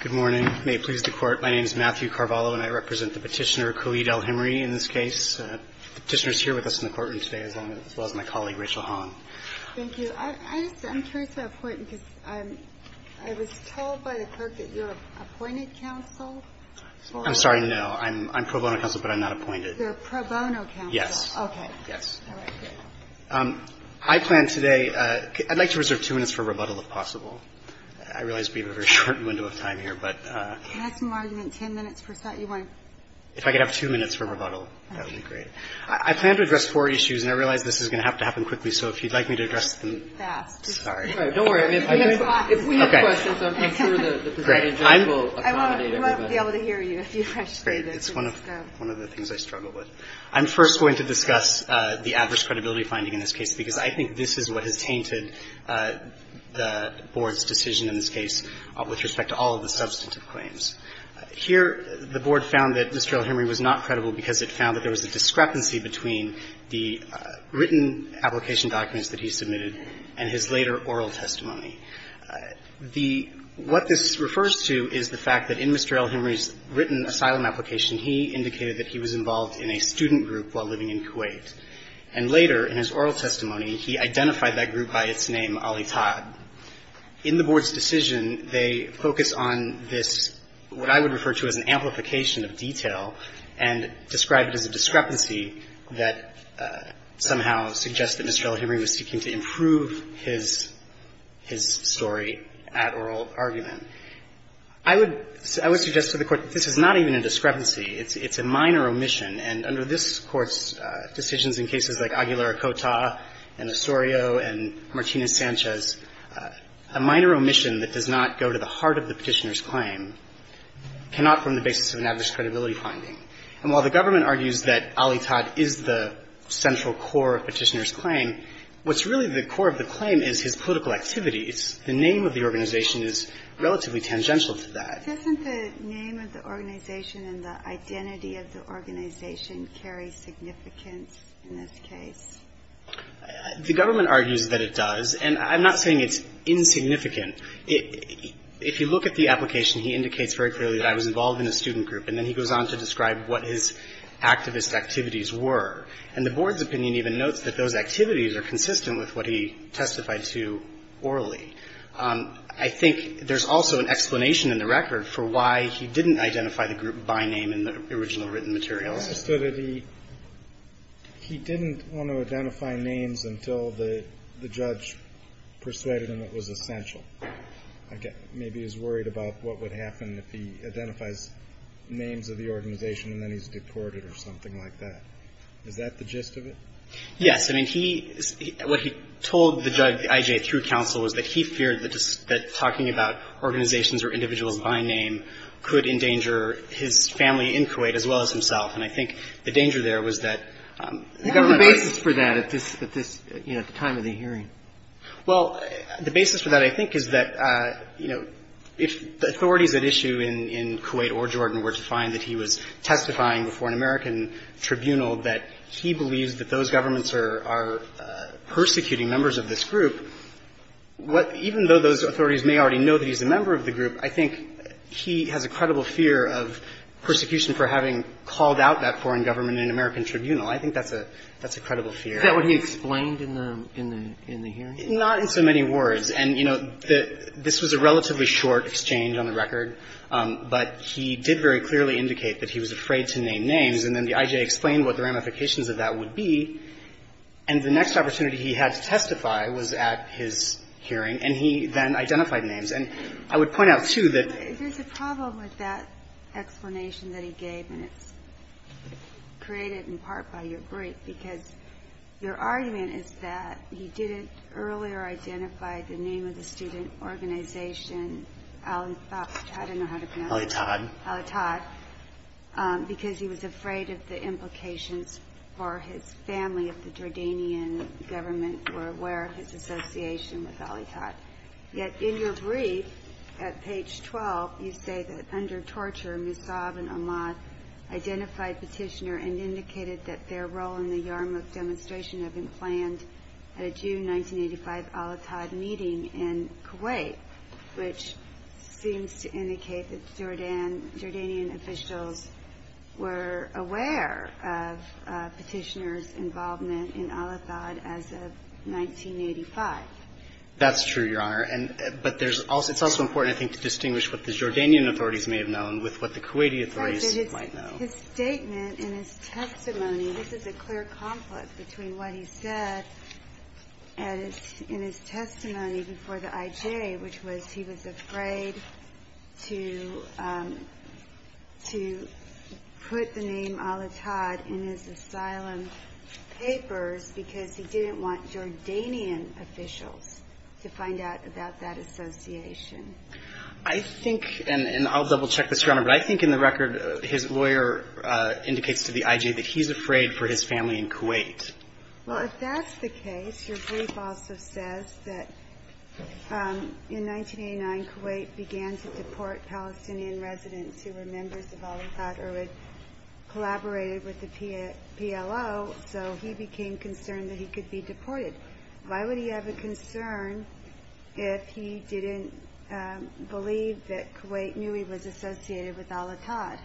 Good morning. May it please the Court, my name is Matthew Carvalho and I represent the petitioner, Khalid Al-Himri, in this case. The petitioner is here with us in the courtroom today, as well as my colleague, Rachel Hahn. Thank you. I'm curious about the court because I was told by the clerk that you're an appointed counsel. I'm sorry, no. I'm pro bono counsel, but I'm not appointed. You're a pro bono counsel. Yes. Okay. Yes. All right, good. I plan today, I'd like to reserve two minutes for rebuttal, if possible. I realize we have a very short window of time here, but... Can I have some argument? Ten minutes per side? You want to... If I could have two minutes for rebuttal, that would be great. I plan to address four issues, and I realize this is going to have to happen quickly, so if you'd like me to address them... Fast. Sorry. All right, don't worry. If we have questions, I'll make sure the presiding judge will accommodate everybody. I won't be able to hear you if you rush through this. Great. It's one of the things I struggle with. I'm first going to discuss the adverse credibility finding in this case, because I think this is what has tainted the Board's decision in this case with respect to all of the substantive claims. Here, the Board found that Mr. L. Henry was not credible because it found that there was a discrepancy between the written application documents that he submitted and his later oral testimony. What this refers to is the fact that in Mr. L. Henry's written asylum application, he indicated that he was involved in a student group while living in Kuwait. And later, in his oral testimony, he identified that group by its name, Ali Todd. In the Board's decision, they focus on this, what I would refer to as an amplification of detail, and describe it as a discrepancy that somehow suggests that Mr. L. Henry was seeking to improve his story at oral argument. I would suggest to the Court that this is not even a discrepancy. It's a minor omission. And under this Court's decisions in cases like Aguilar-Ocota and Osorio and Martinez-Sanchez, a minor omission that does not go to the heart of the Petitioner's claim cannot form the basis of an adverse credibility finding. And while the government argues that Ali Todd is the central core of Petitioner's claim, what's really the core of the claim is his political activity. It's the name of the organization is relatively tangential to that. Ginsburg. Doesn't the name of the organization and the identity of the organization carry significance in this case? Burschel. The government argues that it does. And I'm not saying it's insignificant. If you look at the application, he indicates very clearly that I was involved in a student group. And then he goes on to describe what his activist activities were. And the Board's opinion even notes that those activities are consistent with what he testified to orally. I think there's also an explanation in the record for why he didn't identify the group by name in the original written materials. So he didn't want to identify names until the judge persuaded him it was essential. Maybe he was worried about what would happen if he identifies names of the organization and then he's deported or something like that. Is that the gist of it? Yes. I mean, he — what he told the judge, the I.J., through counsel was that he feared that talking about organizations or individuals by name could endanger his family in Kuwait as well as himself. And I think the danger there was that the government was — What was the basis for that at this — you know, at the time of the hearing? Well, the basis for that, I think, is that, you know, if the authorities at issue in Kuwait or Jordan were to find that he was testifying before an American tribunal, that he believes that those governments are persecuting members of this group, even though those authorities may already know that he's a member of the group, I think he has a credible fear of persecution for having called out that foreign government in an American tribunal. I think that's a credible fear. Is that what he explained in the hearing? Not in so many words. And, you know, this was a relatively short exchange on the record, but he did very briefly explain what the ramifications of that would be, and the next opportunity he had to testify was at his hearing, and he then identified names. And I would point out, too, that — There's a problem with that explanation that he gave, and it's created in part by your brief, because your argument is that he didn't earlier identify the name of the student organization, Alitad, because he was afraid of the implications for his family if the Jordanian government were aware of his association with Alitad. Yet in your brief, at page 12, you say that under torture, Musab and Amad identified Petitioner and indicated that their role in the Yarmouk demonstration had been planned at a June 1985 Alitad meeting in Kuwait, which seems to indicate that Jordanian officials were aware of Petitioner's involvement in Alitad as of 1985. That's true, Your Honor. But there's also — it's also important, I think, to distinguish what the Jordanian authorities may have known with what the Kuwaiti authorities might know. His statement in his testimony — this is a clear conflict between what he said in his testimony before the IJ, which was he was afraid to — to put the name Alitad in his asylum papers because he didn't want Jordanian officials to find out about that association. I think — and I'll double-check this, Your Honor — but I think in the record, his lawyer indicates to the IJ that he's afraid for his family in Kuwait. Well, if that's the case, your brief also says that in 1989, Kuwait began to deport Palestinian residents who were members of Alitad or had collaborated with the PLO, so he became concerned that he could be deported. I don't believe that Kuwait knew he was associated with Alitad.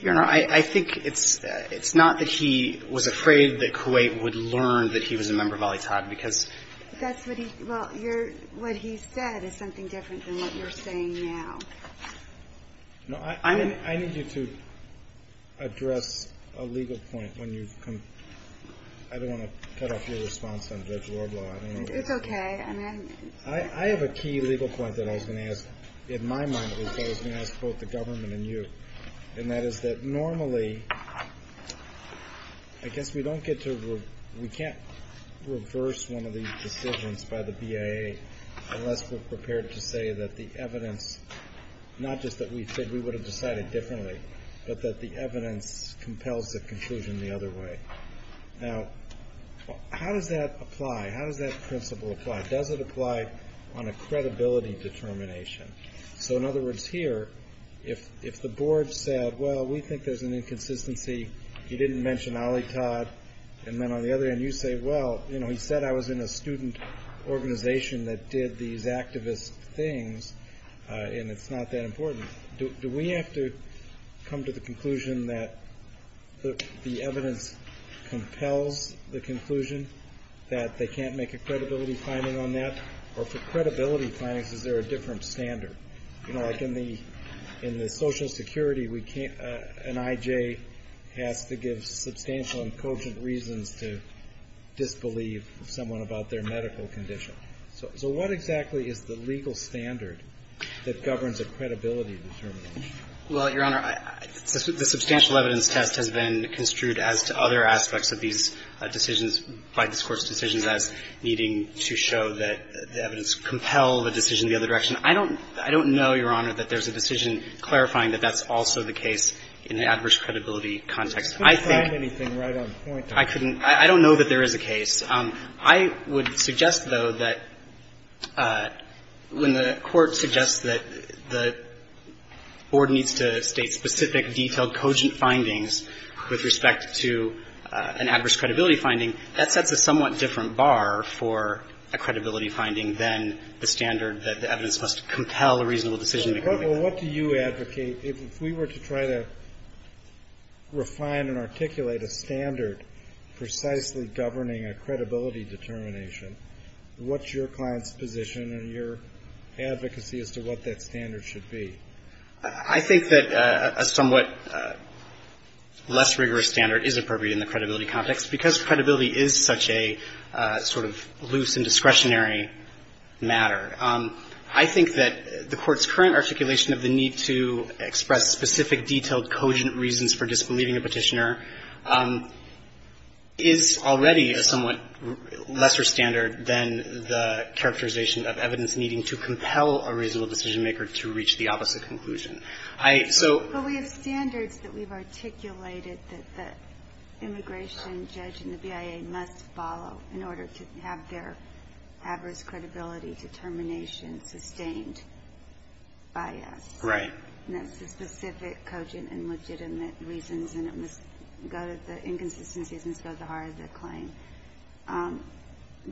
Your Honor, I think it's — it's not that he was afraid that Kuwait would learn that he was a member of Alitad, because — That's what he — well, your — what he said is something different than what you're saying now. No, I need you to address a legal point when you've — I don't want to cut off your response on Judge Kavanaugh's question, but I was going to ask — in my mind, at least, I was going to ask both the government and you, and that is that normally — I guess we don't get to — we can't reverse one of these decisions by the BIA unless we're prepared to say that the evidence — not just that we think we would have decided differently, but that the evidence compels the conclusion the other way. Now, how does that apply? How does that principle apply? Does it apply on a credibility determination? So, in other words, here, if the board said, well, we think there's an inconsistency, you didn't mention Alitad, and then on the other end, you say, well, you know, he said I was in a student organization that did these activist things, and it's not that important. Do we have to come to the conclusion that the evidence compels the conclusion that they can't make a credibility finding on that, or for credibility findings, is there a different standard? You know, like in the Social Security, an I.J. has to give substantial and cogent reasons to disbelieve someone about their medical condition. So what exactly is the legal standard that governs a credibility determination? Well, Your Honor, the substantial evidence test has been construed as to other aspects of these decisions by this Court's decisions as needing to show that the evidence compels a decision the other direction. I don't know, Your Honor, that there's a decision clarifying that that's also the case in the adverse credibility context. I think you can't find anything right on point. I couldn't. I don't know that there is a case. I would suggest, though, that when the Court suggests that the board needs to state specific, detailed, cogent findings with respect to an adverse credibility finding, that sets a somewhat different bar for a credibility finding than the standard that the evidence must compel a reasonable decision to come in. Well, what do you advocate? If we were to try to refine and articulate a standard precisely governing a credibility determination, what's your client's position and your advocacy as to what that standard should be? I think that a somewhat less rigorous standard is appropriate in the credibility context because credibility is such a sort of loose and discretionary matter. I think that the Court's current articulation of the need to express specific, detailed, cogent reasons for disbelieving a Petitioner is already a somewhat lesser standard than the characterization of evidence needing to compel a reasonable decision-maker to reach the opposite conclusion. But we have standards that we've articulated that the immigration judge and the BIA must follow in order to have their adverse credibility determination sustained by us. Right. And that's the specific, cogent, and legitimate reasons, and it must go to the inconsistencies and go to the heart of the claim.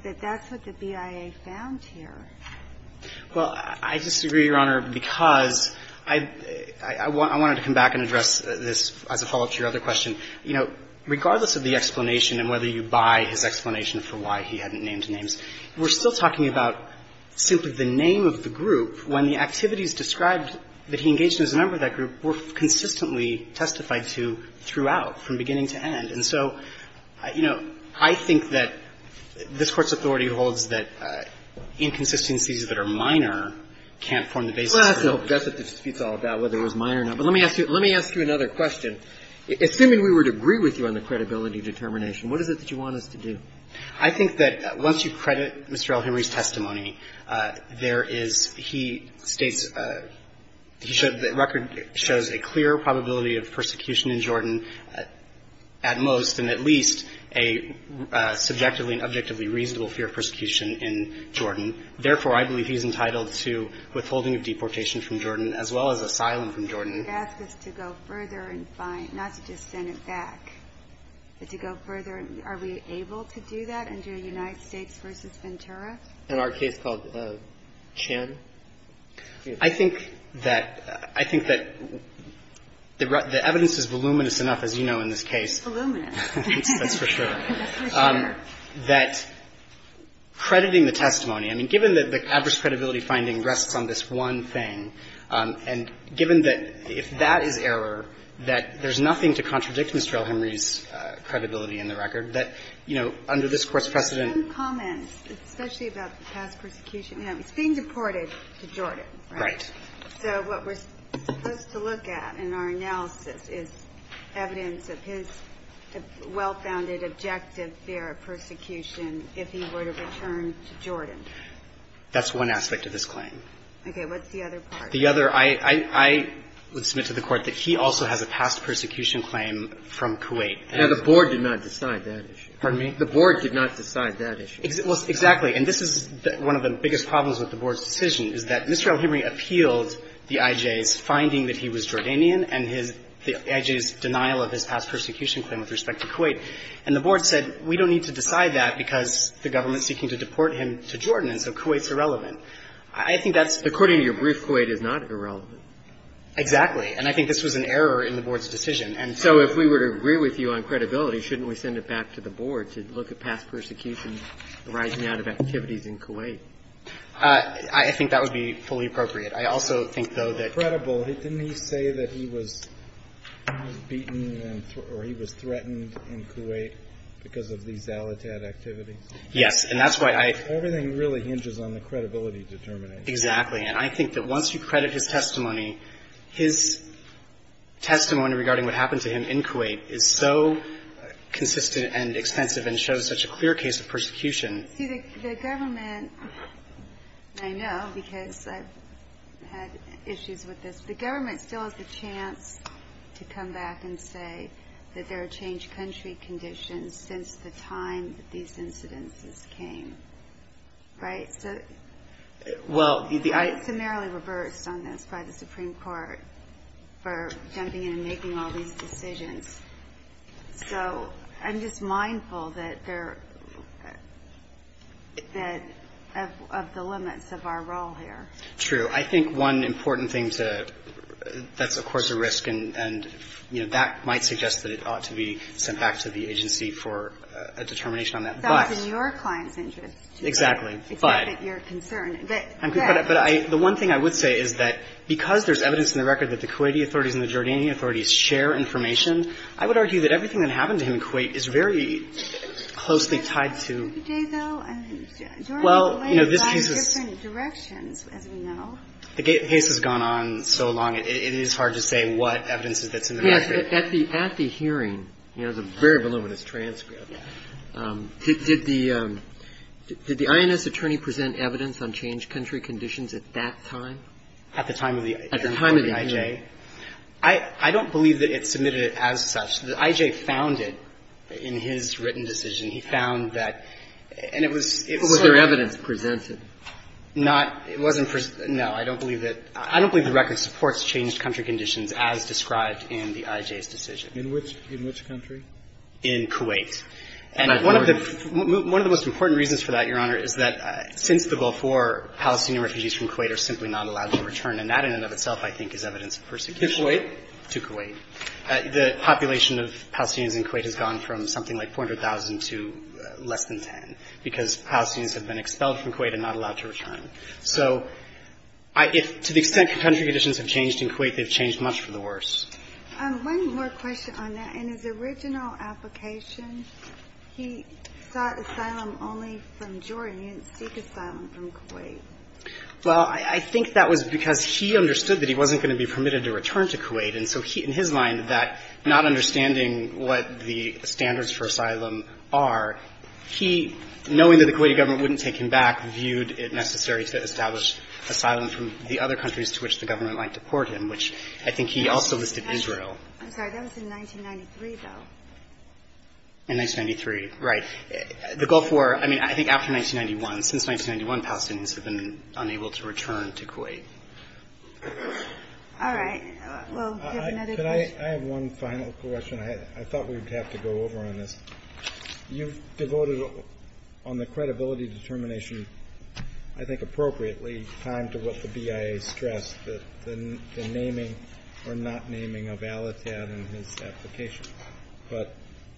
But that's what the BIA found here. Well, I disagree, Your Honor, because I wanted to come back and address this as a follow-up to your other question. You know, regardless of the explanation and whether you buy his explanation for why he hadn't named names, we're still talking about simply the name of the group when the activities described that he engaged in as a member of that group were consistently testified to throughout from beginning to end. And so, you know, I think that this Court's authority holds that inconsistencies that are minor can't form the basis of the argument. Well, that's what the dispute's all about, whether it was minor or not. But let me ask you another question. Assuming we would agree with you on the credibility determination, what is it that you want us to do? I think that once you credit Mr. L. Henry's testimony, there is, he states, the record shows a clear probability of persecution in Jordan at most and at least a subjectively and objectively reasonable fear of persecution in Jordan. Therefore, I believe he's entitled to withholding of deportation from Jordan as well as asylum from Jordan. You ask us to go further and find, not to just send it back, but to go further. Are we able to do that under United States v. Ventura? In our case called Chan? I think that the evidence is voluminous enough, as you know, in this case. Voluminous. That's for sure. That crediting the testimony. I mean, given that the adverse credibility finding rests on this one thing, and given that if that is error, that there's nothing to contradict Mr. L. Henry's credibility in the record, that, you know, under this Court's precedent. But there are some comments, especially about the past persecution. You know, he's being deported to Jordan, right? Right. So what we're supposed to look at in our analysis is evidence of his well-founded objective fear of persecution if he were to return to Jordan. That's one aspect of this claim. Okay. What's the other part? The other, I would submit to the Court that he also has a past persecution claim from Kuwait. Now, the Board did not decide that issue. Pardon me? The Board did not decide that issue. Well, exactly. And this is one of the biggest problems with the Board's decision, is that Mr. L. Henry appealed the IJ's finding that he was Jordanian and his IJ's denial of his past persecution claim with respect to Kuwait. And the Board said, we don't need to decide that because the government's seeking to deport him to Jordan, and so Kuwait's irrelevant. I think that's the point. According to your brief, Kuwait is not irrelevant. Exactly. And I think this was an error in the Board's decision. And so if we were to agree with you on credibility, shouldn't we send it back to the Board to look at past persecutions arising out of activities in Kuwait? I think that would be fully appropriate. I also think, though, that the Board's claim that he was Jordanian and his IJ's denial of his past persecution claim with respect to Kuwait is an error in the Board's decision. Didn't he say that he was beaten and or he was threatened in Kuwait because of these Al-Attad activities? Yes. And that's why I. Everything really hinges on the credibility determination. Exactly. And I think that once you credit his testimony, his testimony regarding what happened to him in Kuwait is so consistent and extensive and shows such a clear case of persecution. See, the government. I know because I've had issues with this. The government still has the chance to come back and say that there are changed country conditions since the time that these incidences came. Right? Well. I'm just mindful that there that of the limits of our role here. True. I think one important thing to that's, of course, a risk. And that might suggest that it ought to be sent back to the agency for a determination on that. But. That was in your client's interest. Exactly. But you're concerned. But. But the one thing I would say is that because there's evidence in the record that the Kuwaiti authorities and the Jordanian authorities share information, I would argue that everything that happened to him in Kuwait is very closely tied to. Well, you know, this is. Directions as we know. The case has gone on so long. It is hard to say what evidence that's in the record. At the hearing. He has a very voluminous transcript. Did the INS attorney present evidence on changed country conditions at that time? At the time of the. At the time of the hearing. I don't believe that it's submitted as such. The I.J. found it in his written decision. He found that. And it was. Was there evidence presented? Not. It wasn't. No. I don't believe that. I don't believe the record supports changed country conditions as described in the I.J.'s decision. In which. In which country? In Kuwait. And one of the. One of the most important reasons for that, Your Honor, is that since the Gulf War, Palestinian refugees from Kuwait are simply not allowed to return. And that in and of itself I think is evidence of persecution. To Kuwait? To Kuwait. The population of Palestinians in Kuwait has gone from something like 400,000 to less than 10, because Palestinians have been expelled from Kuwait and not allowed to return. So if to the extent country conditions have changed in Kuwait, they've changed much for the worse. One more question on that. In his original application, he sought asylum only from Jordan. He didn't seek asylum from Kuwait. Well, I think that was because he understood that he wasn't going to be permitted to return to Kuwait. And so he, in his mind, that not understanding what the standards for asylum are, he, knowing that the Kuwaiti government wouldn't take him back, viewed it necessary to establish asylum from the other countries to which the government might deport him, which I think he also listed Israel. I'm sorry. That was in 1993, though. In 1993. Right. The Gulf War, I mean, I think after 1991. Since 1991, Palestinians have been unable to return to Kuwait. All right. Well, we have another question. Could I have one final question? I thought we would have to go over on this. You've devoted on the credibility determination, I think appropriately, time to what the BIA stressed, the naming or not naming of Al-Attab in his application. But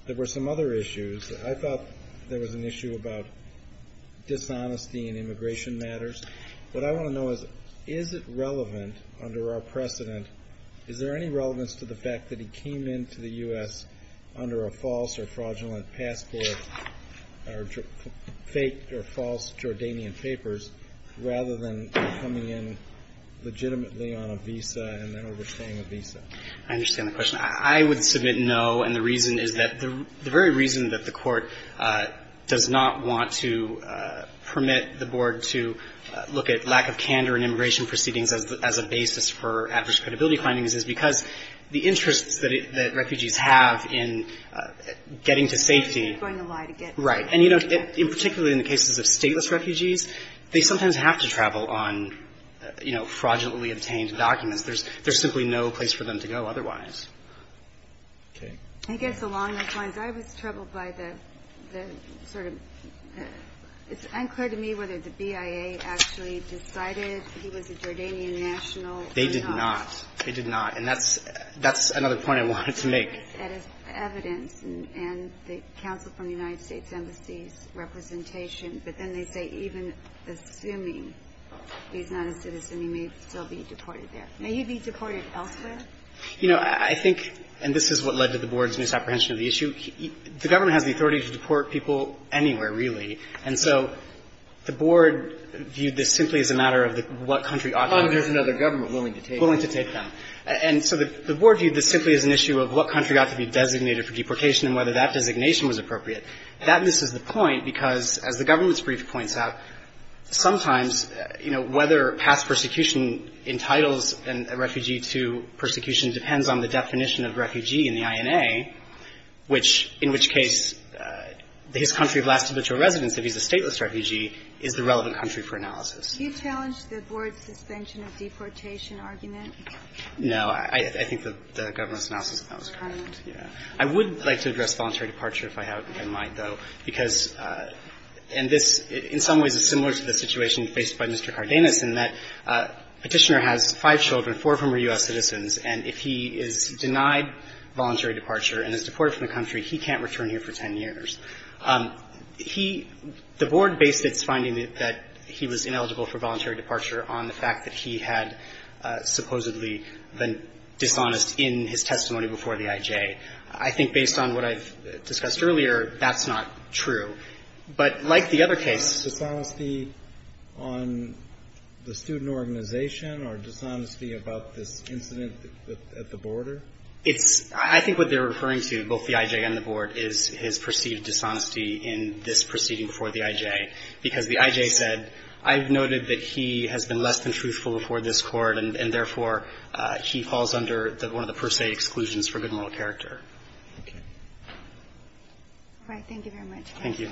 there were some other issues. I thought there was an issue about dishonesty in immigration matters. What I want to know is, is it relevant under our precedent, is there any relevance to the fact that he came into the U.S. under a false or fraudulent passport, or fake or false Jordanian papers, rather than coming in legitimately on a visa and then overstaying a visa? I understand the question. I would submit no, and the reason is that the very reason that the Court does not want to permit the Board to look at lack of candor in immigration proceedings as a basis for adverse credibility findings is because the interests that refugees have in getting to safety. Going to lie to get there. Right. And, you know, particularly in the cases of stateless refugees, they sometimes have to travel on, you know, fraudulently obtained documents. There's simply no place for them to go otherwise. Okay. I guess along those lines, I was troubled by the sort of – it's unclear to me whether the BIA actually decided he was a Jordanian national or not. They did not. They did not. And that's – that's another point I wanted to make. They look at his evidence and the counsel from the United States Embassy's representation, but then they say even assuming he's not a citizen, he may still be deported there. May he be deported elsewhere? You know, I think – and this is what led to the Board's misapprehension of the issue. The Government has the authority to deport people anywhere, really. And so the Board viewed this simply as a matter of what country authorizes it. As long as there's another government willing to take them. Willing to take them. And so the Board viewed this simply as an issue of what country ought to be designated for deportation and whether that designation was appropriate. That misses the point because, as the Government's brief points out, sometimes, you know, whether past persecution entitles a refugee to persecution depends on the definition of refugee in the INA, which – in which case his country of last habitual residence, if he's a stateless refugee, is the relevant country for analysis. Do you challenge the Board's suspension of deportation argument? No. I think the Government's analysis of that was correct. I would like to address voluntary departure, if I might, though, because – and this in some ways is similar to the situation faced by Mr. Cardenas in that Petitioner has five children, four of whom are U.S. citizens, and if he is denied voluntary departure and is deported from the country, he can't return here for 10 years. He – the Board based its finding that he was ineligible for voluntary departure on the fact that he had supposedly been dishonest in his testimony before the IJ. I think based on what I've discussed earlier, that's not true. But like the other case – Is that dishonesty on the student organization or dishonesty about this incident at the border? It's – I think what they're referring to, both the IJ and the Board, is his perceived dishonesty in this proceeding before the IJ, because the IJ said, I've noted that he has been less than truthful before this Court, and therefore he falls under one of the per se exclusions for good moral character. All right. Thank you very much. Thank you.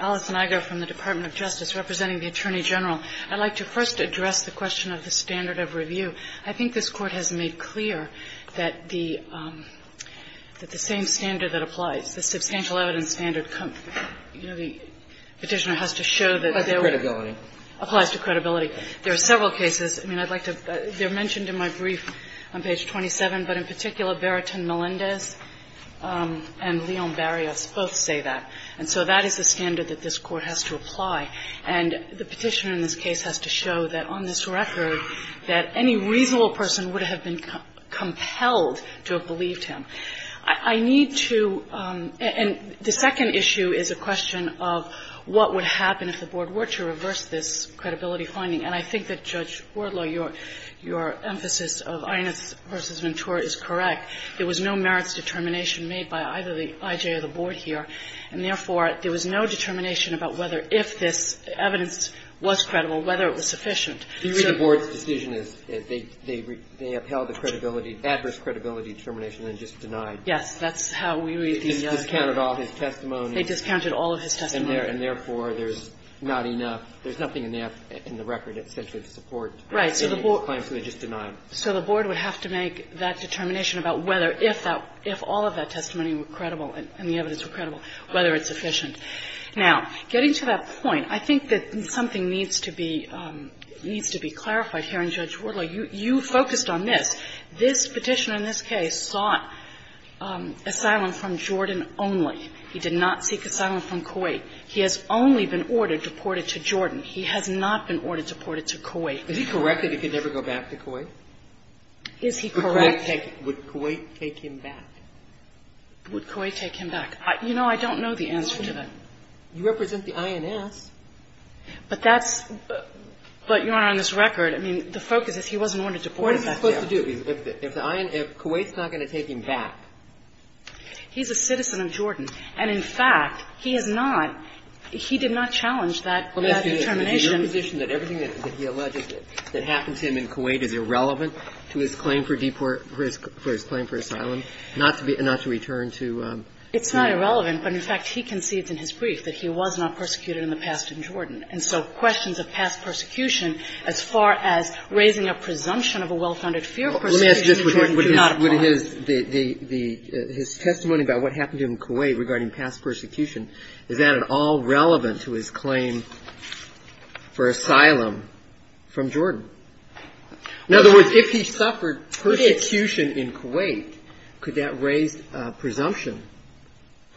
Alice Niger from the Department of Justice, representing the Attorney General. I'd like to first address the question of the standard of review. I think this Court has made clear that the – that the same standard that applies, the substantial evidence standard, you know, the Petitioner has to show that there were – Applies to credibility. Applies to credibility. There are several cases. I mean, I'd like to – they're mentioned in my brief on page 27, but in particular, Beratin Melendez and Leon Barrios both say that. And so that is the standard that this Court has to apply. And the Petitioner in this case has to show that on this record, that any reasonable person would have been compelled to have believed him. I need to – and the second issue is a question of what would happen if the Board were to reverse this credibility finding. And I think that, Judge Wardlaw, your emphasis of Einitz v. Ventura is correct. There was no merits determination made by either the I.J. or the Board here. And therefore, there was no determination about whether – if this evidence was credible, whether it was sufficient. So the Board's decision is they upheld the credibility – adverse credibility determination and just denied. Yes. That's how we read the evidence. They discounted all his testimonies. They discounted all of his testimonies. And therefore, there's not enough – there's nothing enough in the record, essentially, to support the claims that they just denied. Right. So the Board would have to make that determination about whether – if all of that testimony were credible and the evidence were credible, whether it's sufficient. Now, getting to that point, I think that something needs to be clarified here. And, Judge Wardlaw, you focused on this. This Petitioner in this case sought asylum from Jordan only. He did not seek asylum from Kuwait. He has only been ordered deported to Jordan. He has not been ordered deported to Kuwait. Is he correct that he could never go back to Kuwait? Is he correct? Would Kuwait take him back? Would Kuwait take him back? You know, I don't know the answer to that. You represent the INS. But that's – but, Your Honor, on this record, I mean, the focus is he wasn't ordered deported back there. What is he supposed to do? If Kuwait's not going to take him back? He's a citizen of Jordan. And, in fact, he has not – he did not challenge that determination. Let me ask you this. Is it your position that everything that he alleges that happened to him in Kuwait is irrelevant to his claim for deport – for his claim for asylum, not to be – not to return to Jordan? It's not irrelevant. But, in fact, he concedes in his brief that he was not persecuted in the past in Jordan. And so questions of past persecution as far as raising a presumption of a well-founded fear of persecution in Jordan do not apply. But his testimony about what happened to him in Kuwait regarding past persecution, is that at all relevant to his claim for asylum from Jordan? In other words, if he suffered persecution in Kuwait, could that raise a presumption?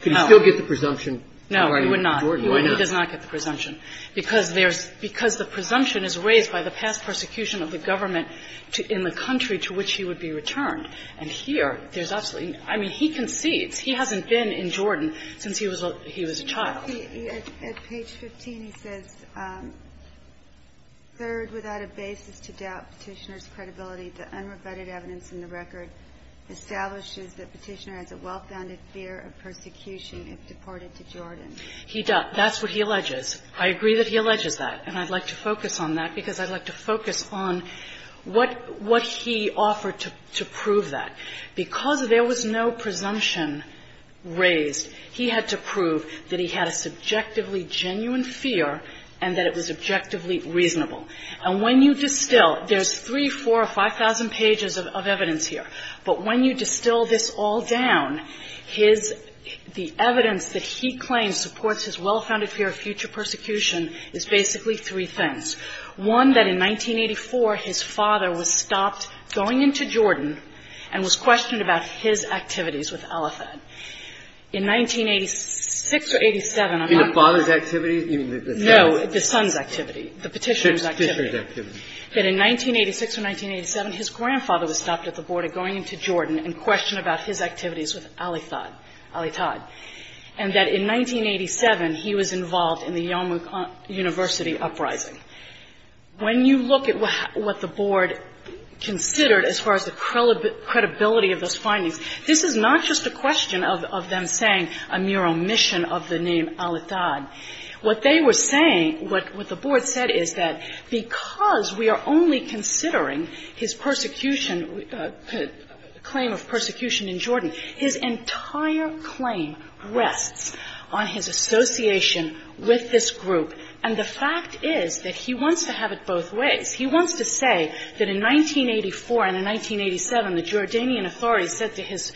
Could he still get the presumption regarding Jordan? No, he would not. He does not get the presumption, because there's – because the presumption is raised by the past persecution of the government to – in the country to which he would be returned. And here, there's absolutely – I mean, he concedes. He hasn't been in Jordan since he was a – he was a child. At page 15, he says, Third, without a basis to doubt Petitioner's credibility, the unrebutted evidence in the record establishes that Petitioner has a well-founded fear of persecution if deported to Jordan. He – that's what he alleges. I agree that he alleges that. And I'd like to focus on that, because I'd like to focus on what – what he offered to prove that. Because there was no presumption raised, he had to prove that he had a subjectively genuine fear and that it was objectively reasonable. And when you distill – there's 3, 4, 5,000 pages of evidence here. But when you distill this all down, his – the evidence that he claims supports his well-founded fear of future persecution is basically three things. One, that in 1984, his father was stopped going into Jordan and was questioned about his activities with Al-Athad. In 1986 or 87, I'm not sure. In the father's activities? No, the son's activity. The Petitioner's activity. Petitioner's activity. That in 1986 or 1987, his grandfather was stopped at the border going into Jordan and questioned about his activities with Al-Athad. Al-Athad. And that in 1987, he was involved in the Yom Kippur University uprising. When you look at what the Board considered as far as the credibility of those findings, this is not just a question of them saying a mere omission of the name Al-Athad. What they were saying – what the Board said is that because we are only considering his persecution, claim of persecution in Jordan, his entire claim rests on his association with this group. And the fact is that he wants to have it both ways. He wants to say that in 1984 and in 1987, the Jordanian authorities said to his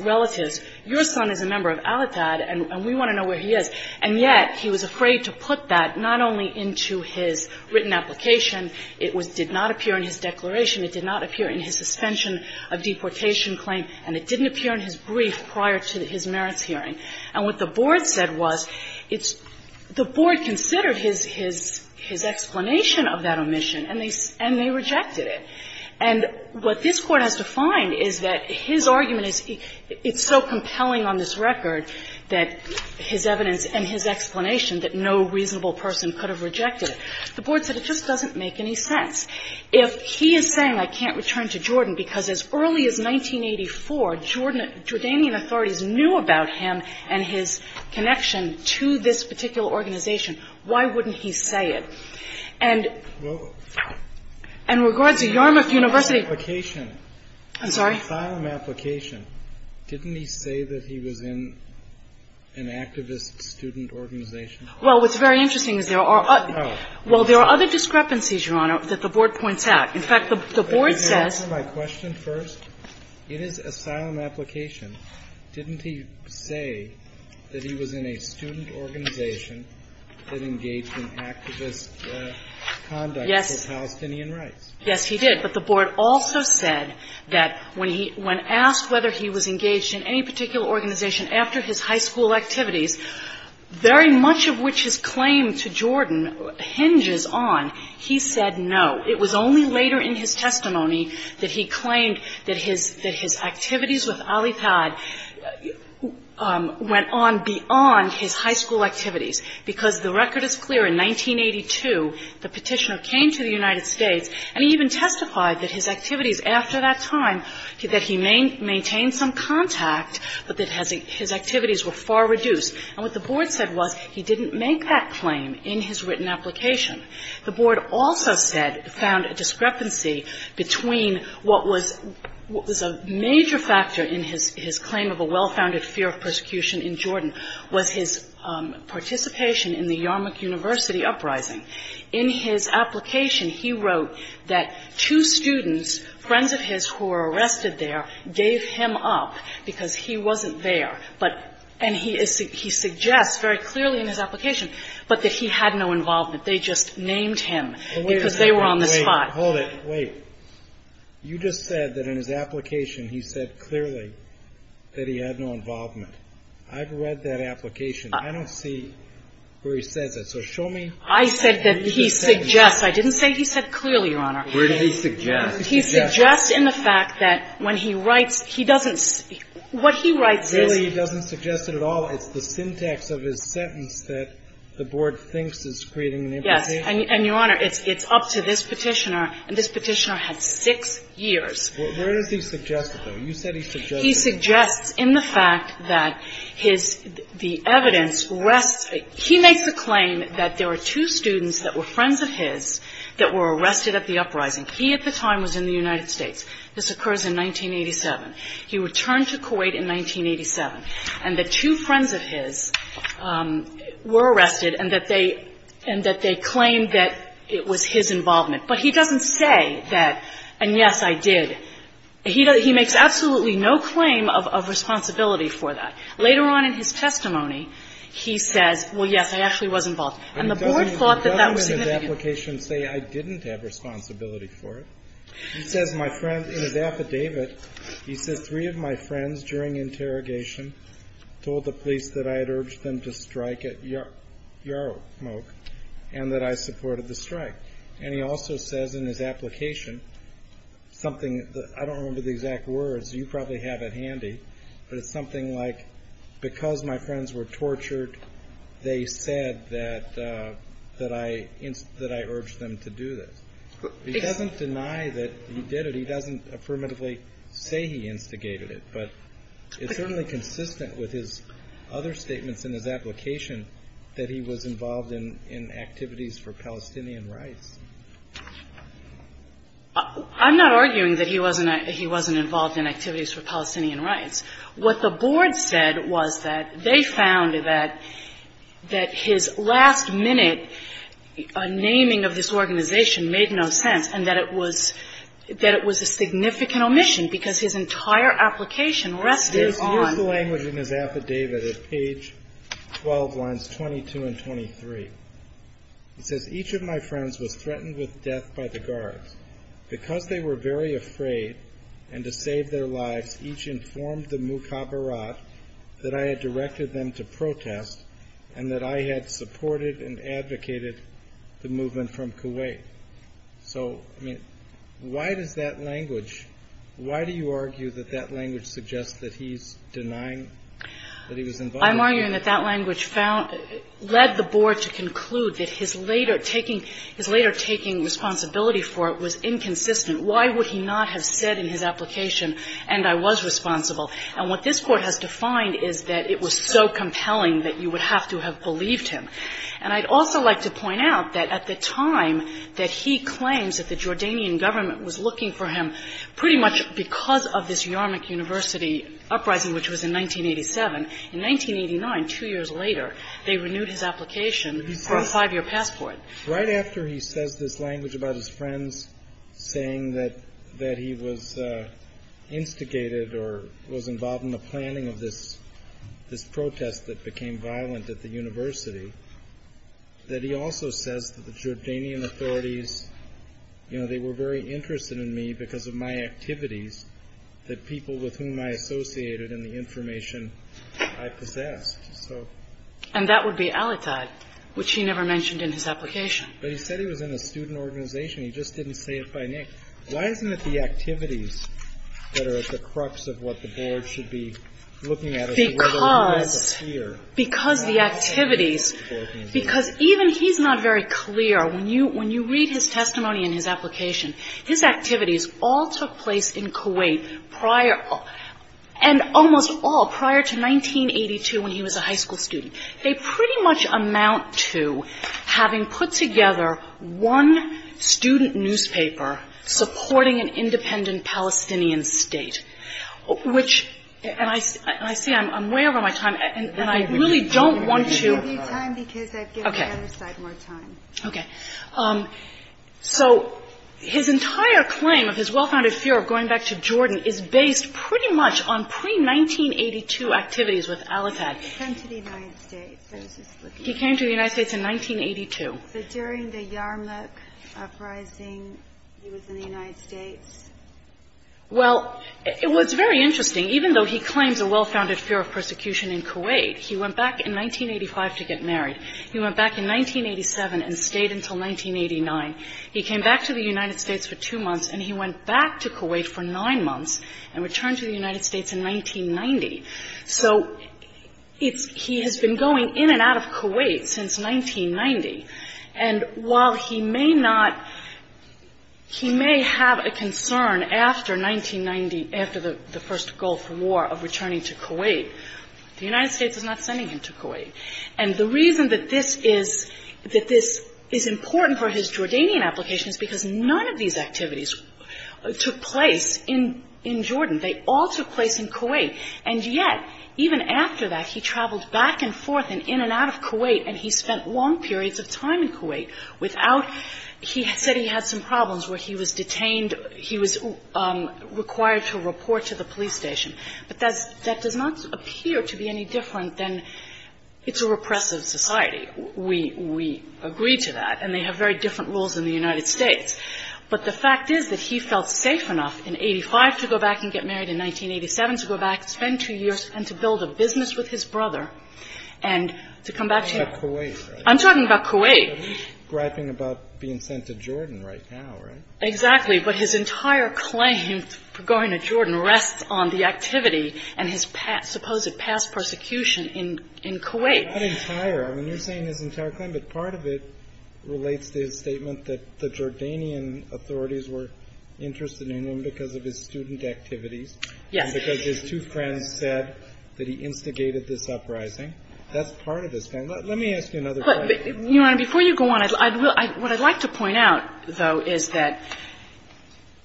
relatives, your son is a member of Al-Athad and we want to know where he is. And yet he was afraid to put that not only into his written application. It did not appear in his declaration. It did not appear in his suspension of deportation claim. And it didn't appear in his brief prior to his merits hearing. And what the Board said was it's – the Board considered his explanation of that omission and they rejected it. And what this Court has to find is that his argument is it's so compelling on this record that his evidence and his explanation that no reasonable person could have rejected it. The Board said it just doesn't make any sense. If he is saying I can't return to Jordan because as early as 1984, Jordanian authorities knew about him and his connection to this particular organization, why wouldn't he say it? And in regards to Yarmouth University – I'm sorry? His asylum application, didn't he say that he was in an activist student organization? Well, what's very interesting is there are – Oh. Well, there are other discrepancies, Your Honor, that the Board points out. In fact, the Board says – Could you answer my question first? In his asylum application, didn't he say that he was in a student organization that engaged in activist conduct for Palestinian rights? Yes. Yes, he did. But the Board also said that when he – when asked whether he was engaged in any particular organization after his high school activities, very much of which his claim to Jordan hinges on, he said no. It was only later in his testimony that he claimed that his – that his activities with Al-Ithad went on beyond his high school activities, because the record is clear in 1982 the Petitioner came to the United States and he even testified that his activities after that time, that he maintained some contact, but that his activities were far reduced. And what the Board said was he didn't make that claim in his written application. The Board also said – found a discrepancy between what was a major factor in his claim of a well-founded fear of persecution in Jordan was his participation in the Yarmouk University uprising. In his application, he wrote that two students, friends of his who were arrested there, gave him up because he wasn't there. But – and he suggests very clearly in his application, but that he had no involvement. They just named him because they were on the spot. Wait a second. Wait. Hold it. Wait. You just said that in his application he said clearly that he had no involvement. I've read that application. I don't see where he says it. So show me. I said that he suggests. I didn't say he said clearly, Your Honor. Where did he suggest? He suggests in the fact that when he writes, he doesn't – what he writes is – Clearly, he doesn't suggest it at all. It's the syntax of his sentence that the Board thinks is creating an implication. Yes. And, Your Honor, it's up to this Petitioner. And this Petitioner had six years. Where does he suggest it, though? You said he suggested it. He suggests in the fact that his – the evidence rests – he makes the claim that there were two students that were friends of his that were arrested at the uprising. He at the time was in the United States. This occurs in 1987. He returned to Kuwait in 1987, and that two friends of his were arrested and that they – and that they claimed that it was his involvement. But he doesn't say that, and yes, I did. He makes absolutely no claim of responsibility for that. Later on in his testimony, he says, well, yes, I actually was involved. And the Board thought that that was significant. But he doesn't in his application say I didn't have responsibility for it. He says my friend – in his affidavit, he says three of my friends during interrogation told the police that I had urged them to strike at Yarokmok and that I supported the strike. And he also says in his application something – I don't remember the exact words. You probably have it handy, but it's something like because my friends were tortured, they said that I urged them to do this. He doesn't deny that he did it. He doesn't affirmatively say he instigated it. But it's certainly consistent with his other statements in his application that he was involved in activities for Palestinian rights. I'm not arguing that he wasn't involved in activities for Palestinian rights. What the Board said was that they found that his last-minute naming of this organization made no sense and that it was a significant omission because his entire application rested on – It's useful language in his affidavit at page 12, lines 22 and 23. It says each of my friends was threatened with death by the guards. Because they were very afraid and to save their lives, each informed the Mukhabarat that I had directed them to protest and that I had supported and advocated the movement from Kuwait. So, I mean, why does that language – why do you argue that that language suggests that he's denying that he was involved? I'm arguing that that language led the Board to conclude that his later taking responsibility for it was inconsistent. Why would he not have said in his application, and I was responsible? And what this Court has defined is that it was so compelling that you would have to have believed him. And I'd also like to point out that at the time that he claims that the Jordanian government was looking for him, pretty much because of this Yarmouk University uprising, which was in 1987, in 1989, two years later, they renewed his application for a five-year passport. Right after he says this language about his friends saying that he was instigated or was involved in the planning of this protest that became violent at the university, that he also says that the Jordanian authorities, you know, they were very interested in me because of my activities, And that would be al-Ittad, which he never mentioned in his application. But he said he was in a student organization. He just didn't say it by name. Why isn't it the activities that are at the crux of what the Board should be looking at as to whether or not he has a fear? Because the activities, because even he's not very clear. When you read his testimony in his application, his activities all took place in Kuwait prior, and almost all prior to 1982 when he was a high school student. They pretty much amount to having put together one student newspaper supporting an independent Palestinian state, which, and I see I'm way over my time, and I really don't want to. I'll give you time because I've given the other side more time. Okay. So his entire claim of his well-founded fear of going back to Jordan is based pretty much on pre-1982 activities with al-Ittad. He came to the United States. He came to the United States in 1982. But during the Yarmouk uprising, he was in the United States. Well, it was very interesting. Even though he claims a well-founded fear of persecution in Kuwait, he went back in 1985 to get married. He went back in 1987 and stayed until 1989. He came back to the United States for two months, and he went back to Kuwait for nine months and returned to the United States in 1990. So it's he has been going in and out of Kuwait since 1990. And while he may not, he may have a concern after 1990, after the first Gulf War, of returning to Kuwait, the United States is not sending him to Kuwait. And the reason that this is important for his Jordanian application is because none of these activities took place in Jordan. They all took place in Kuwait. And yet, even after that, he traveled back and forth and in and out of Kuwait, and he spent long periods of time in Kuwait without he said he had some problems where he was detained, he was required to report to the police station. But that does not appear to be any different than it's a repressive society. We agree to that. And they have very different rules in the United States. But the fact is that he felt safe enough in 1985 to go back and get married in 1987, to go back, spend two years, and to build a business with his brother and to come back to him. I'm talking about Kuwait. I'm talking about Kuwait. He's griping about being sent to Jordan right now, right? Exactly. But his entire claim for going to Jordan rests on the activity and his supposed past persecution in Kuwait. Not entire. I mean, you're saying his entire claim, but part of it relates to his statement that the Jordanian authorities were interested in him because of his student activities. Yes. And because his two friends said that he instigated this uprising. That's part of his claim. Let me ask you another question. Your Honor, before you go on, what I'd like to point out, though, is that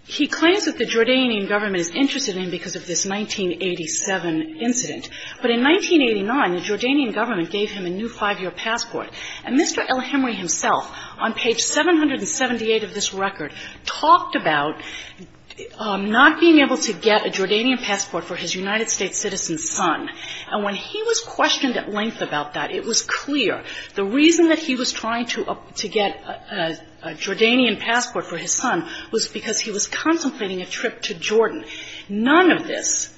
he claims that the Jordanian government is interested in him because of this 1987 incident. But in 1989, the Jordanian government gave him a new five-year passport. And Mr. El-Hemry himself, on page 778 of this record, talked about not being able to get a Jordanian passport for his United States citizen's son. And when he was questioned at length about that, it was clear the reason that he was trying to get a Jordanian passport for his son was because he was contemplating a trip to Jordan. None of this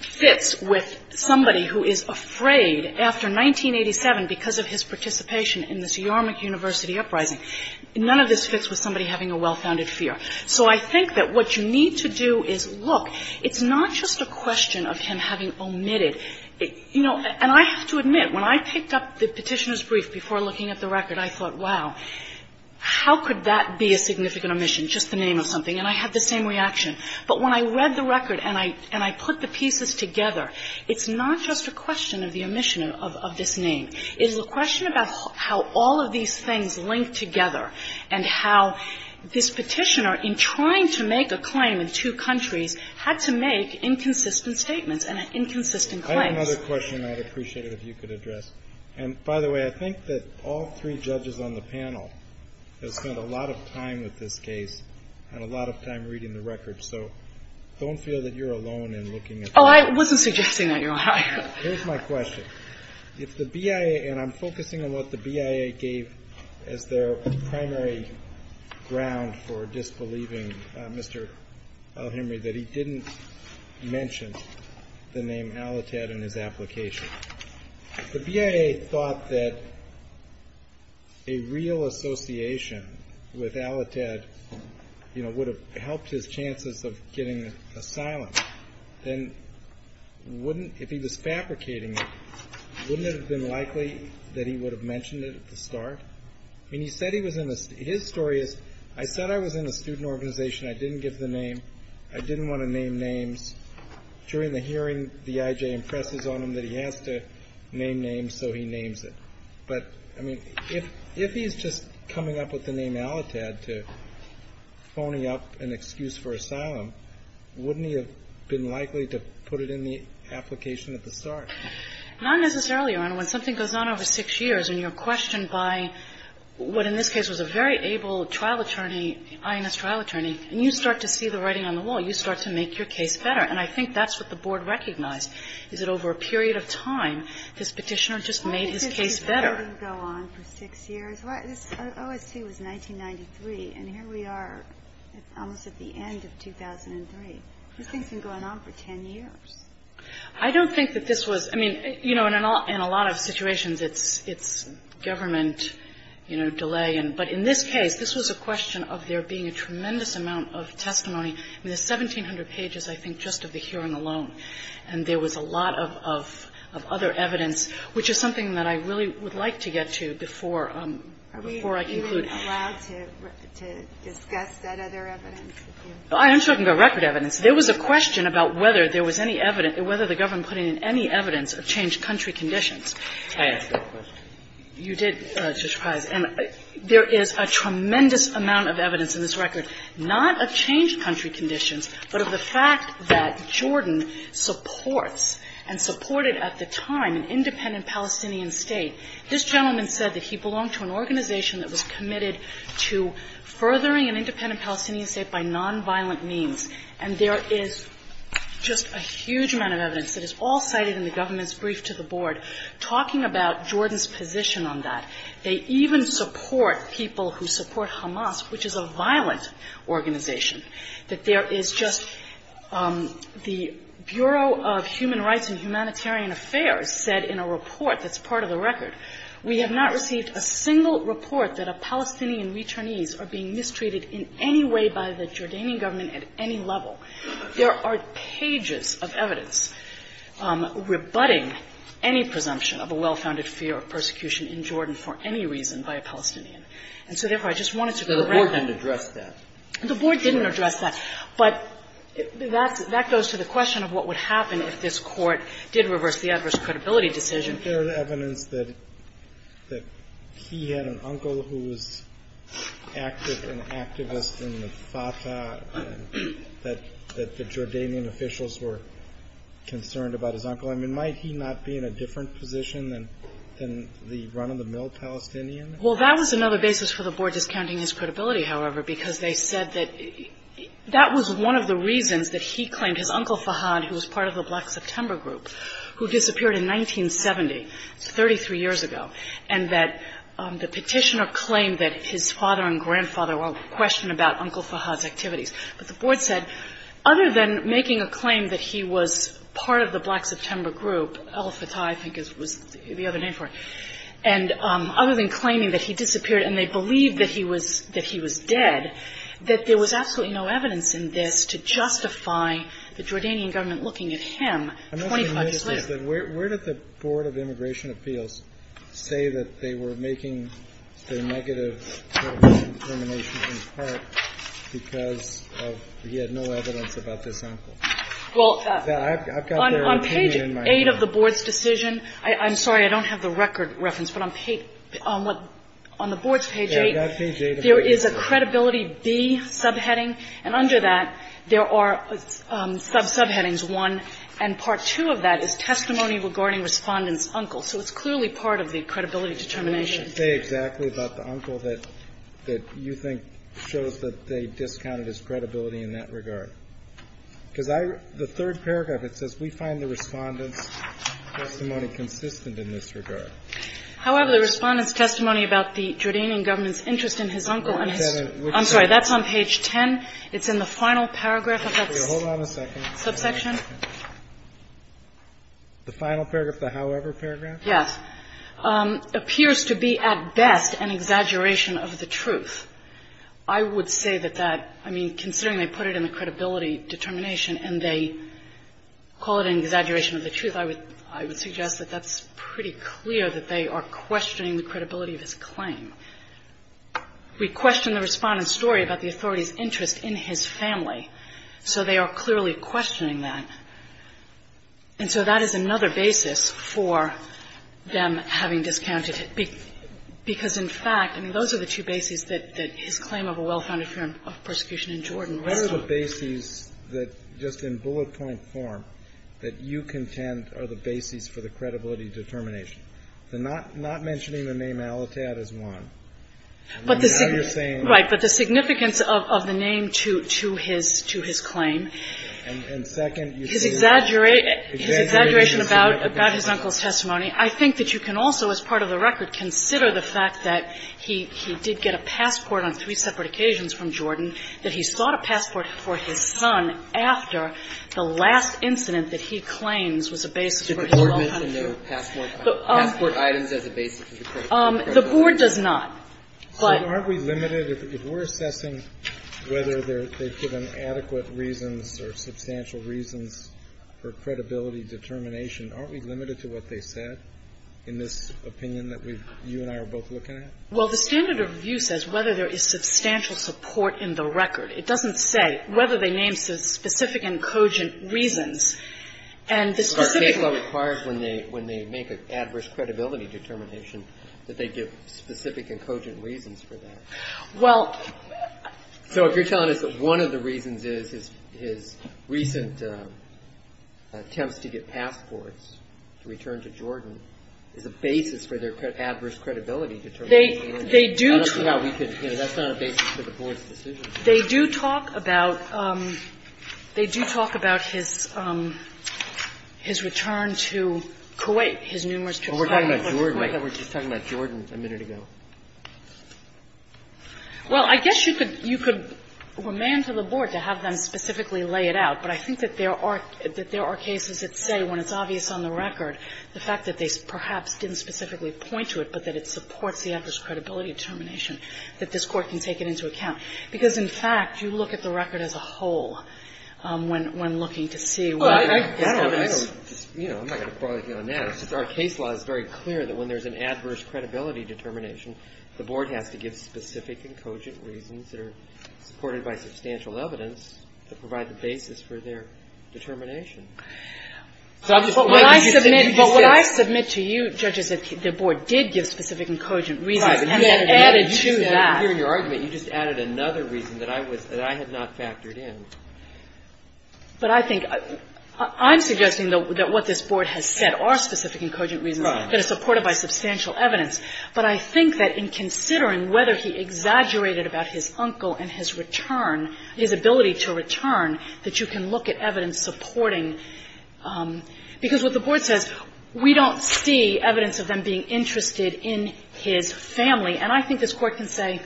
fits with somebody who is afraid after 1987 because of his participation in this Yarmouk University uprising. None of this fits with somebody having a well-founded fear. So I think that what you need to do is look. It's not just a question of him having omitted. You know, and I have to admit, when I picked up the Petitioner's brief before looking at the record, I thought, wow, how could that be a significant omission, just the name of something? And I had the same reaction. But when I read the record and I put the pieces together, it's not just a question of the omission of this name. It is a question about how all of these things link together and how this Petitioner in trying to make a claim in two countries had to make inconsistent statements and inconsistent claims. Kennedy. I have another question I'd appreciate it if you could address. And by the way, I think that all three judges on the panel have spent a lot of time with this case and a lot of time reading the record. So don't feel that you're alone in looking at the record. Oh, I wasn't suggesting that you are. Here's my question. If the BIA, and I'm focusing on what the BIA gave as their primary ground for disbelief in Mr. El-Hemry, that he didn't mention the name Alletad in his application. If the BIA thought that a real association with Alletad would have helped his chances of getting asylum, then wouldn't, if he was fabricating it, wouldn't it have been likely that he would have mentioned it at the start? I mean, he said he was in a — his story is, I said I was in a student organization. I didn't give the name. I didn't want to name names. During the hearing, the IJ impresses on him that he has to name names, so he names it. But, I mean, if he's just coming up with the name Alletad to phony up an excuse for asylum, wouldn't he have been likely to put it in the application at the start? Not necessarily, Your Honor. When something goes on over six years and you're questioned by what, in this case, was a very able trial attorney, INS trial attorney, and you start to see the writing on the wall, you start to make your case better. And I think that's what the Board recognized, is that over a period of time, this Petitioner just made his case better. Why did this Petitioner go on for six years? OST was 1993, and here we are almost at the end of 2003. This thing's been going on for 10 years. I don't think that this was, I mean, you know, in a lot of situations it's government, you know, delay. But in this case, this was a question of there being a tremendous amount of testimony. I mean, there's 1,700 pages, I think, just of the hearing alone, and there was a lot of other evidence, which is something that I really would like to get to before I conclude. Are we allowed to discuss that other evidence with you? I'm talking about record evidence. There was a question about whether there was any evidence, whether the government put in any evidence of changed country conditions. You did, Justice Breyer. And there is a tremendous amount of evidence in this record, not of changed country conditions, but of the fact that Jordan supports and supported at the time an independent Palestinian State. This gentleman said that he belonged to an organization that was committed to furthering an independent Palestinian State by nonviolent means. And there is just a huge amount of evidence that is all cited in the government's brief to the board talking about Jordan's position on that. They even support people who support Hamas, which is a violent organization, that there is just the Bureau of Human Rights and Humanitarian Affairs said in a report that's part of the record, We have not received a single report that a Palestinian returnees are being mistreated in any way by the Jordanian government at any level. There are pages of evidence rebutting any presumption of a well-founded fear of persecution in Jordan for any reason by a Palestinian. And so, therefore, I just wanted to go back. So the board didn't address that. The board didn't address that. But that goes to the question of what would happen if this Court did reverse the adverse credibility decision. Isn't there evidence that he had an uncle who was an activist in the Fatah, that the Jordanian officials were concerned about his uncle? I mean, might he not be in a different position than the run-of-the-mill Palestinian? Well, that was another basis for the board discounting his credibility, however, because they said that that was one of the reasons that he claimed his And that the petitioner claimed that his father and grandfather were in question about Uncle Fahad's activities. But the board said other than making a claim that he was part of the Black September group, El Fatah I think was the other name for it, and other than claiming that he disappeared and they believed that he was dead, that there was absolutely no evidence in this to justify the Jordanian government looking at him 25 years ago. And so the board said, where did the Board of Immigration Appeals say that they were making the negative determination in part because he had no evidence about this uncle? Well, on page 8 of the board's decision, I'm sorry, I don't have the record reference, but on the board's page 8, there is a credibility B subheading, and under that there are subheadings 1 and part 2 of that is testimony regarding Respondent's uncle. So it's clearly part of the credibility determination. And what did it say exactly about the uncle that you think shows that they discounted his credibility in that regard? Because the third paragraph, it says we find the Respondent's testimony consistent in this regard. However, the Respondent's testimony about the Jordanian government's interest in his uncle and his uncle's interest in his uncle, I'm sorry, that's on page 10. It's in the final paragraph of that subsection. The final paragraph, the however paragraph? Yes. Appears to be at best an exaggeration of the truth. I would say that that, I mean, considering they put it in the credibility determination and they call it an exaggeration of the truth, I would suggest that that's pretty clear that they are questioning the credibility of his claim. We question the Respondent's story about the authority's interest in his family, so they are clearly questioning that. And so that is another basis for them having discounted, because in fact, I mean, those are the two bases that his claim of a well-founded firm of persecution in Jordan rests on. What are the bases that, just in bullet point form, that you contend are the bases for the credibility determination? The not mentioning the name Alitad is one. And now you're saying that. Right. But the significance of the name to his claim, his exaggeration about his uncle's testimony, I think that you can also, as part of the record, consider the fact that he did get a passport on three separate occasions from Jordan, that he sought a passport for his son after the last incident that he claims was a basis for his well-founded firm. The Board does not, but are we limited if we're assessing whether they've given adequate reasons or substantial reasons for credibility determination, aren't we limited to what they said in this opinion that we've, you and I are both looking at? Well, the standard of review says whether there is substantial support in the record. It doesn't say whether they name specific and cogent reasons. And the specific ones are required when they make an adverse credibility determination that they give specific and cogent reasons for that. Well. So if you're telling us that one of the reasons is his recent attempts to get passports to return to Jordan is a basis for their adverse credibility determination. They do. I don't see how we could, you know, that's not a basis for the Board's decision. They do talk about his return to Kuwait, his numerous trips to Kuwait. We're just talking about Jordan a minute ago. Well, I guess you could remand to the Board to have them specifically lay it out. But I think that there are cases that say, when it's obvious on the record, the fact that they perhaps didn't specifically point to it, but that it supports the adverse credibility determination, that this Court can take it into account. Because, in fact, you look at the record as a whole when looking to see what happens. Well, I don't, you know, I'm not going to broil you on that. It's just our case law is very clear that when there's an adverse credibility determination, the Board has to give specific and cogent reasons that are supported by substantial evidence to provide the basis for their determination. But what I submit to you, Judge, is that the Board did give specific and cogent reasons and added to that. Breyer, in your argument, you just added another reason that I was – that I had not factored in. But I think – I'm suggesting, though, that what this Board has said are specific and cogent reasons that are supported by substantial evidence. But I think that in considering whether he exaggerated about his uncle and his return – his ability to return, that you can look at evidence supporting – because what the Board says, we don't see evidence of them being interested in his family. And I think this Court can say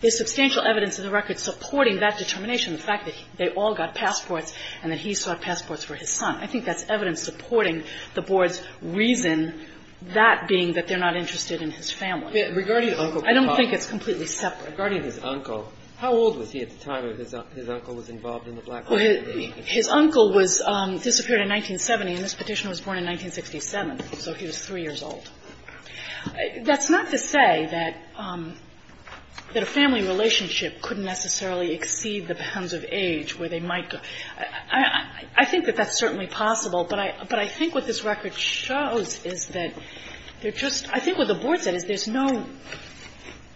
there's substantial evidence in the record supporting that determination, the fact that they all got passports and that he still had passports for his son. I think that's evidence supporting the Board's reason, that being that they're not interested in his family. I don't think it's completely separate. Regarding his uncle, how old was he at the time that his uncle was involved in the black market? His uncle was – disappeared in 1970, and this Petitioner was born in 1967, so he was 3 years old. That's not to say that a family relationship couldn't necessarily exceed the bounds of age where they might go. I think that that's certainly possible. But I think what this record shows is that they're just – I think what the Board said is there's no –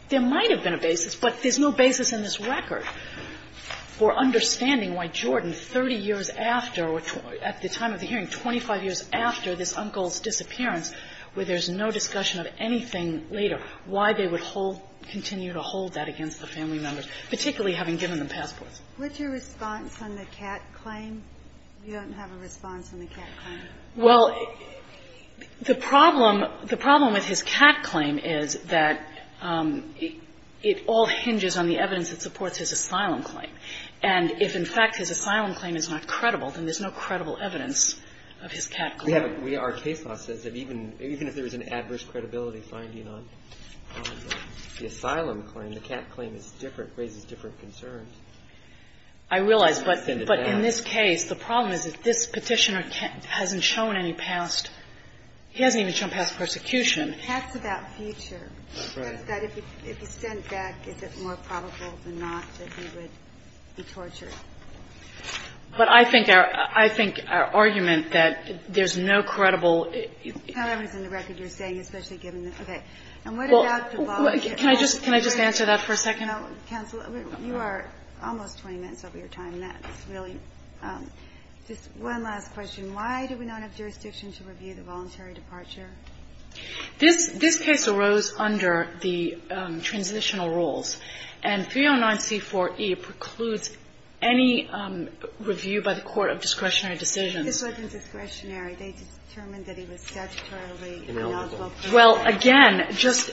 there might have been a basis, but there's no basis in this record for understanding why Jordan, 30 years after or at the time of the hearing, 25 years after this uncle's disappearance where there's no discussion of anything later, why they would hold – continue to hold that against the family members, particularly having given them passports. What's your response on the Catt claim? You don't have a response on the Catt claim? Well, the problem – the problem with his Catt claim is that it all hinges on the evidence that supports his asylum claim. And if, in fact, his asylum claim is not credible, then there's no credible evidence of his Catt claim. Our case law says that even if there is an adverse credibility finding on the asylum claim, the Catt claim is different, raises different concerns. I realize. But in this case, the problem is that this Petitioner hasn't shown any past – he hasn't even shown past persecution. Catt's about future. That's right. But I think our – I think our argument that there's no credible – However is in the record you're saying, especially given the – okay. And what about the – Can I just – can I just answer that for a second? No, counsel. You are almost 20 minutes over your time. That's really – just one last question. Why do we not have jurisdiction to review the voluntary departure? This case arose under the transitional rules. And 309c4e precludes any review by the court of discretionary decisions. This wasn't discretionary. They determined that he was statutorily ineligible. Well, again, just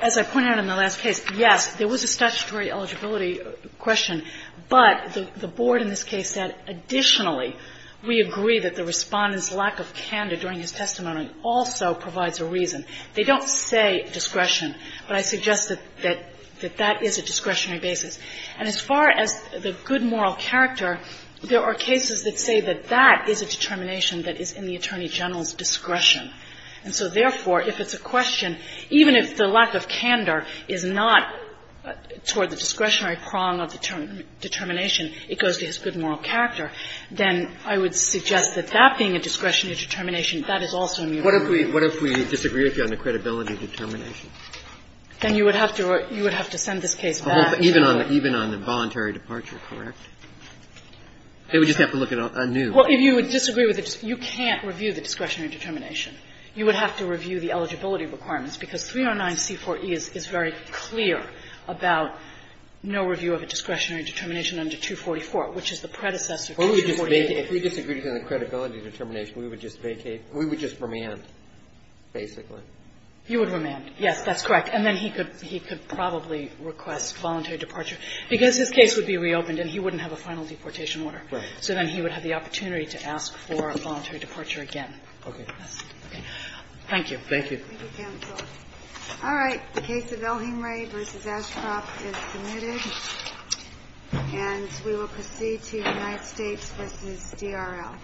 as I pointed out in the last case, yes, there was a statutory eligibility question. But the board in this case said, additionally, we agree that the Respondent's lack of candor during his testimony also provides a reason. They don't say discretion. But I suggest that that is a discretionary basis. And as far as the good moral character, there are cases that say that that is a determination that is in the Attorney General's discretion. And so, therefore, if it's a question, even if the lack of candor is not toward the discretionary prong of determination, it goes to his good moral character, then I would suggest that that being a discretionary determination, that is also a mutual review. What if we disagree with you on the credibility determination? Then you would have to send this case back. Even on the voluntary departure, correct? They would just have to look at a new. Well, if you would disagree with it, you can't review the discretionary determination. You would have to review the eligibility requirements, because 309c4e is very clear about no review of a discretionary determination under 244, which is the predecessor to 248. If we disagreed on the credibility determination, we would just vacate. We would just remand, basically. You would remand. Yes, that's correct. And then he could probably request voluntary departure, because his case would be reopened and he wouldn't have a final deportation order. Right. So then he would have the opportunity to ask for a voluntary departure again. Okay. Thank you. Thank you. All right. The case of Elhingray v. Ashcroft is submitted. And we will proceed to United States v. DRL.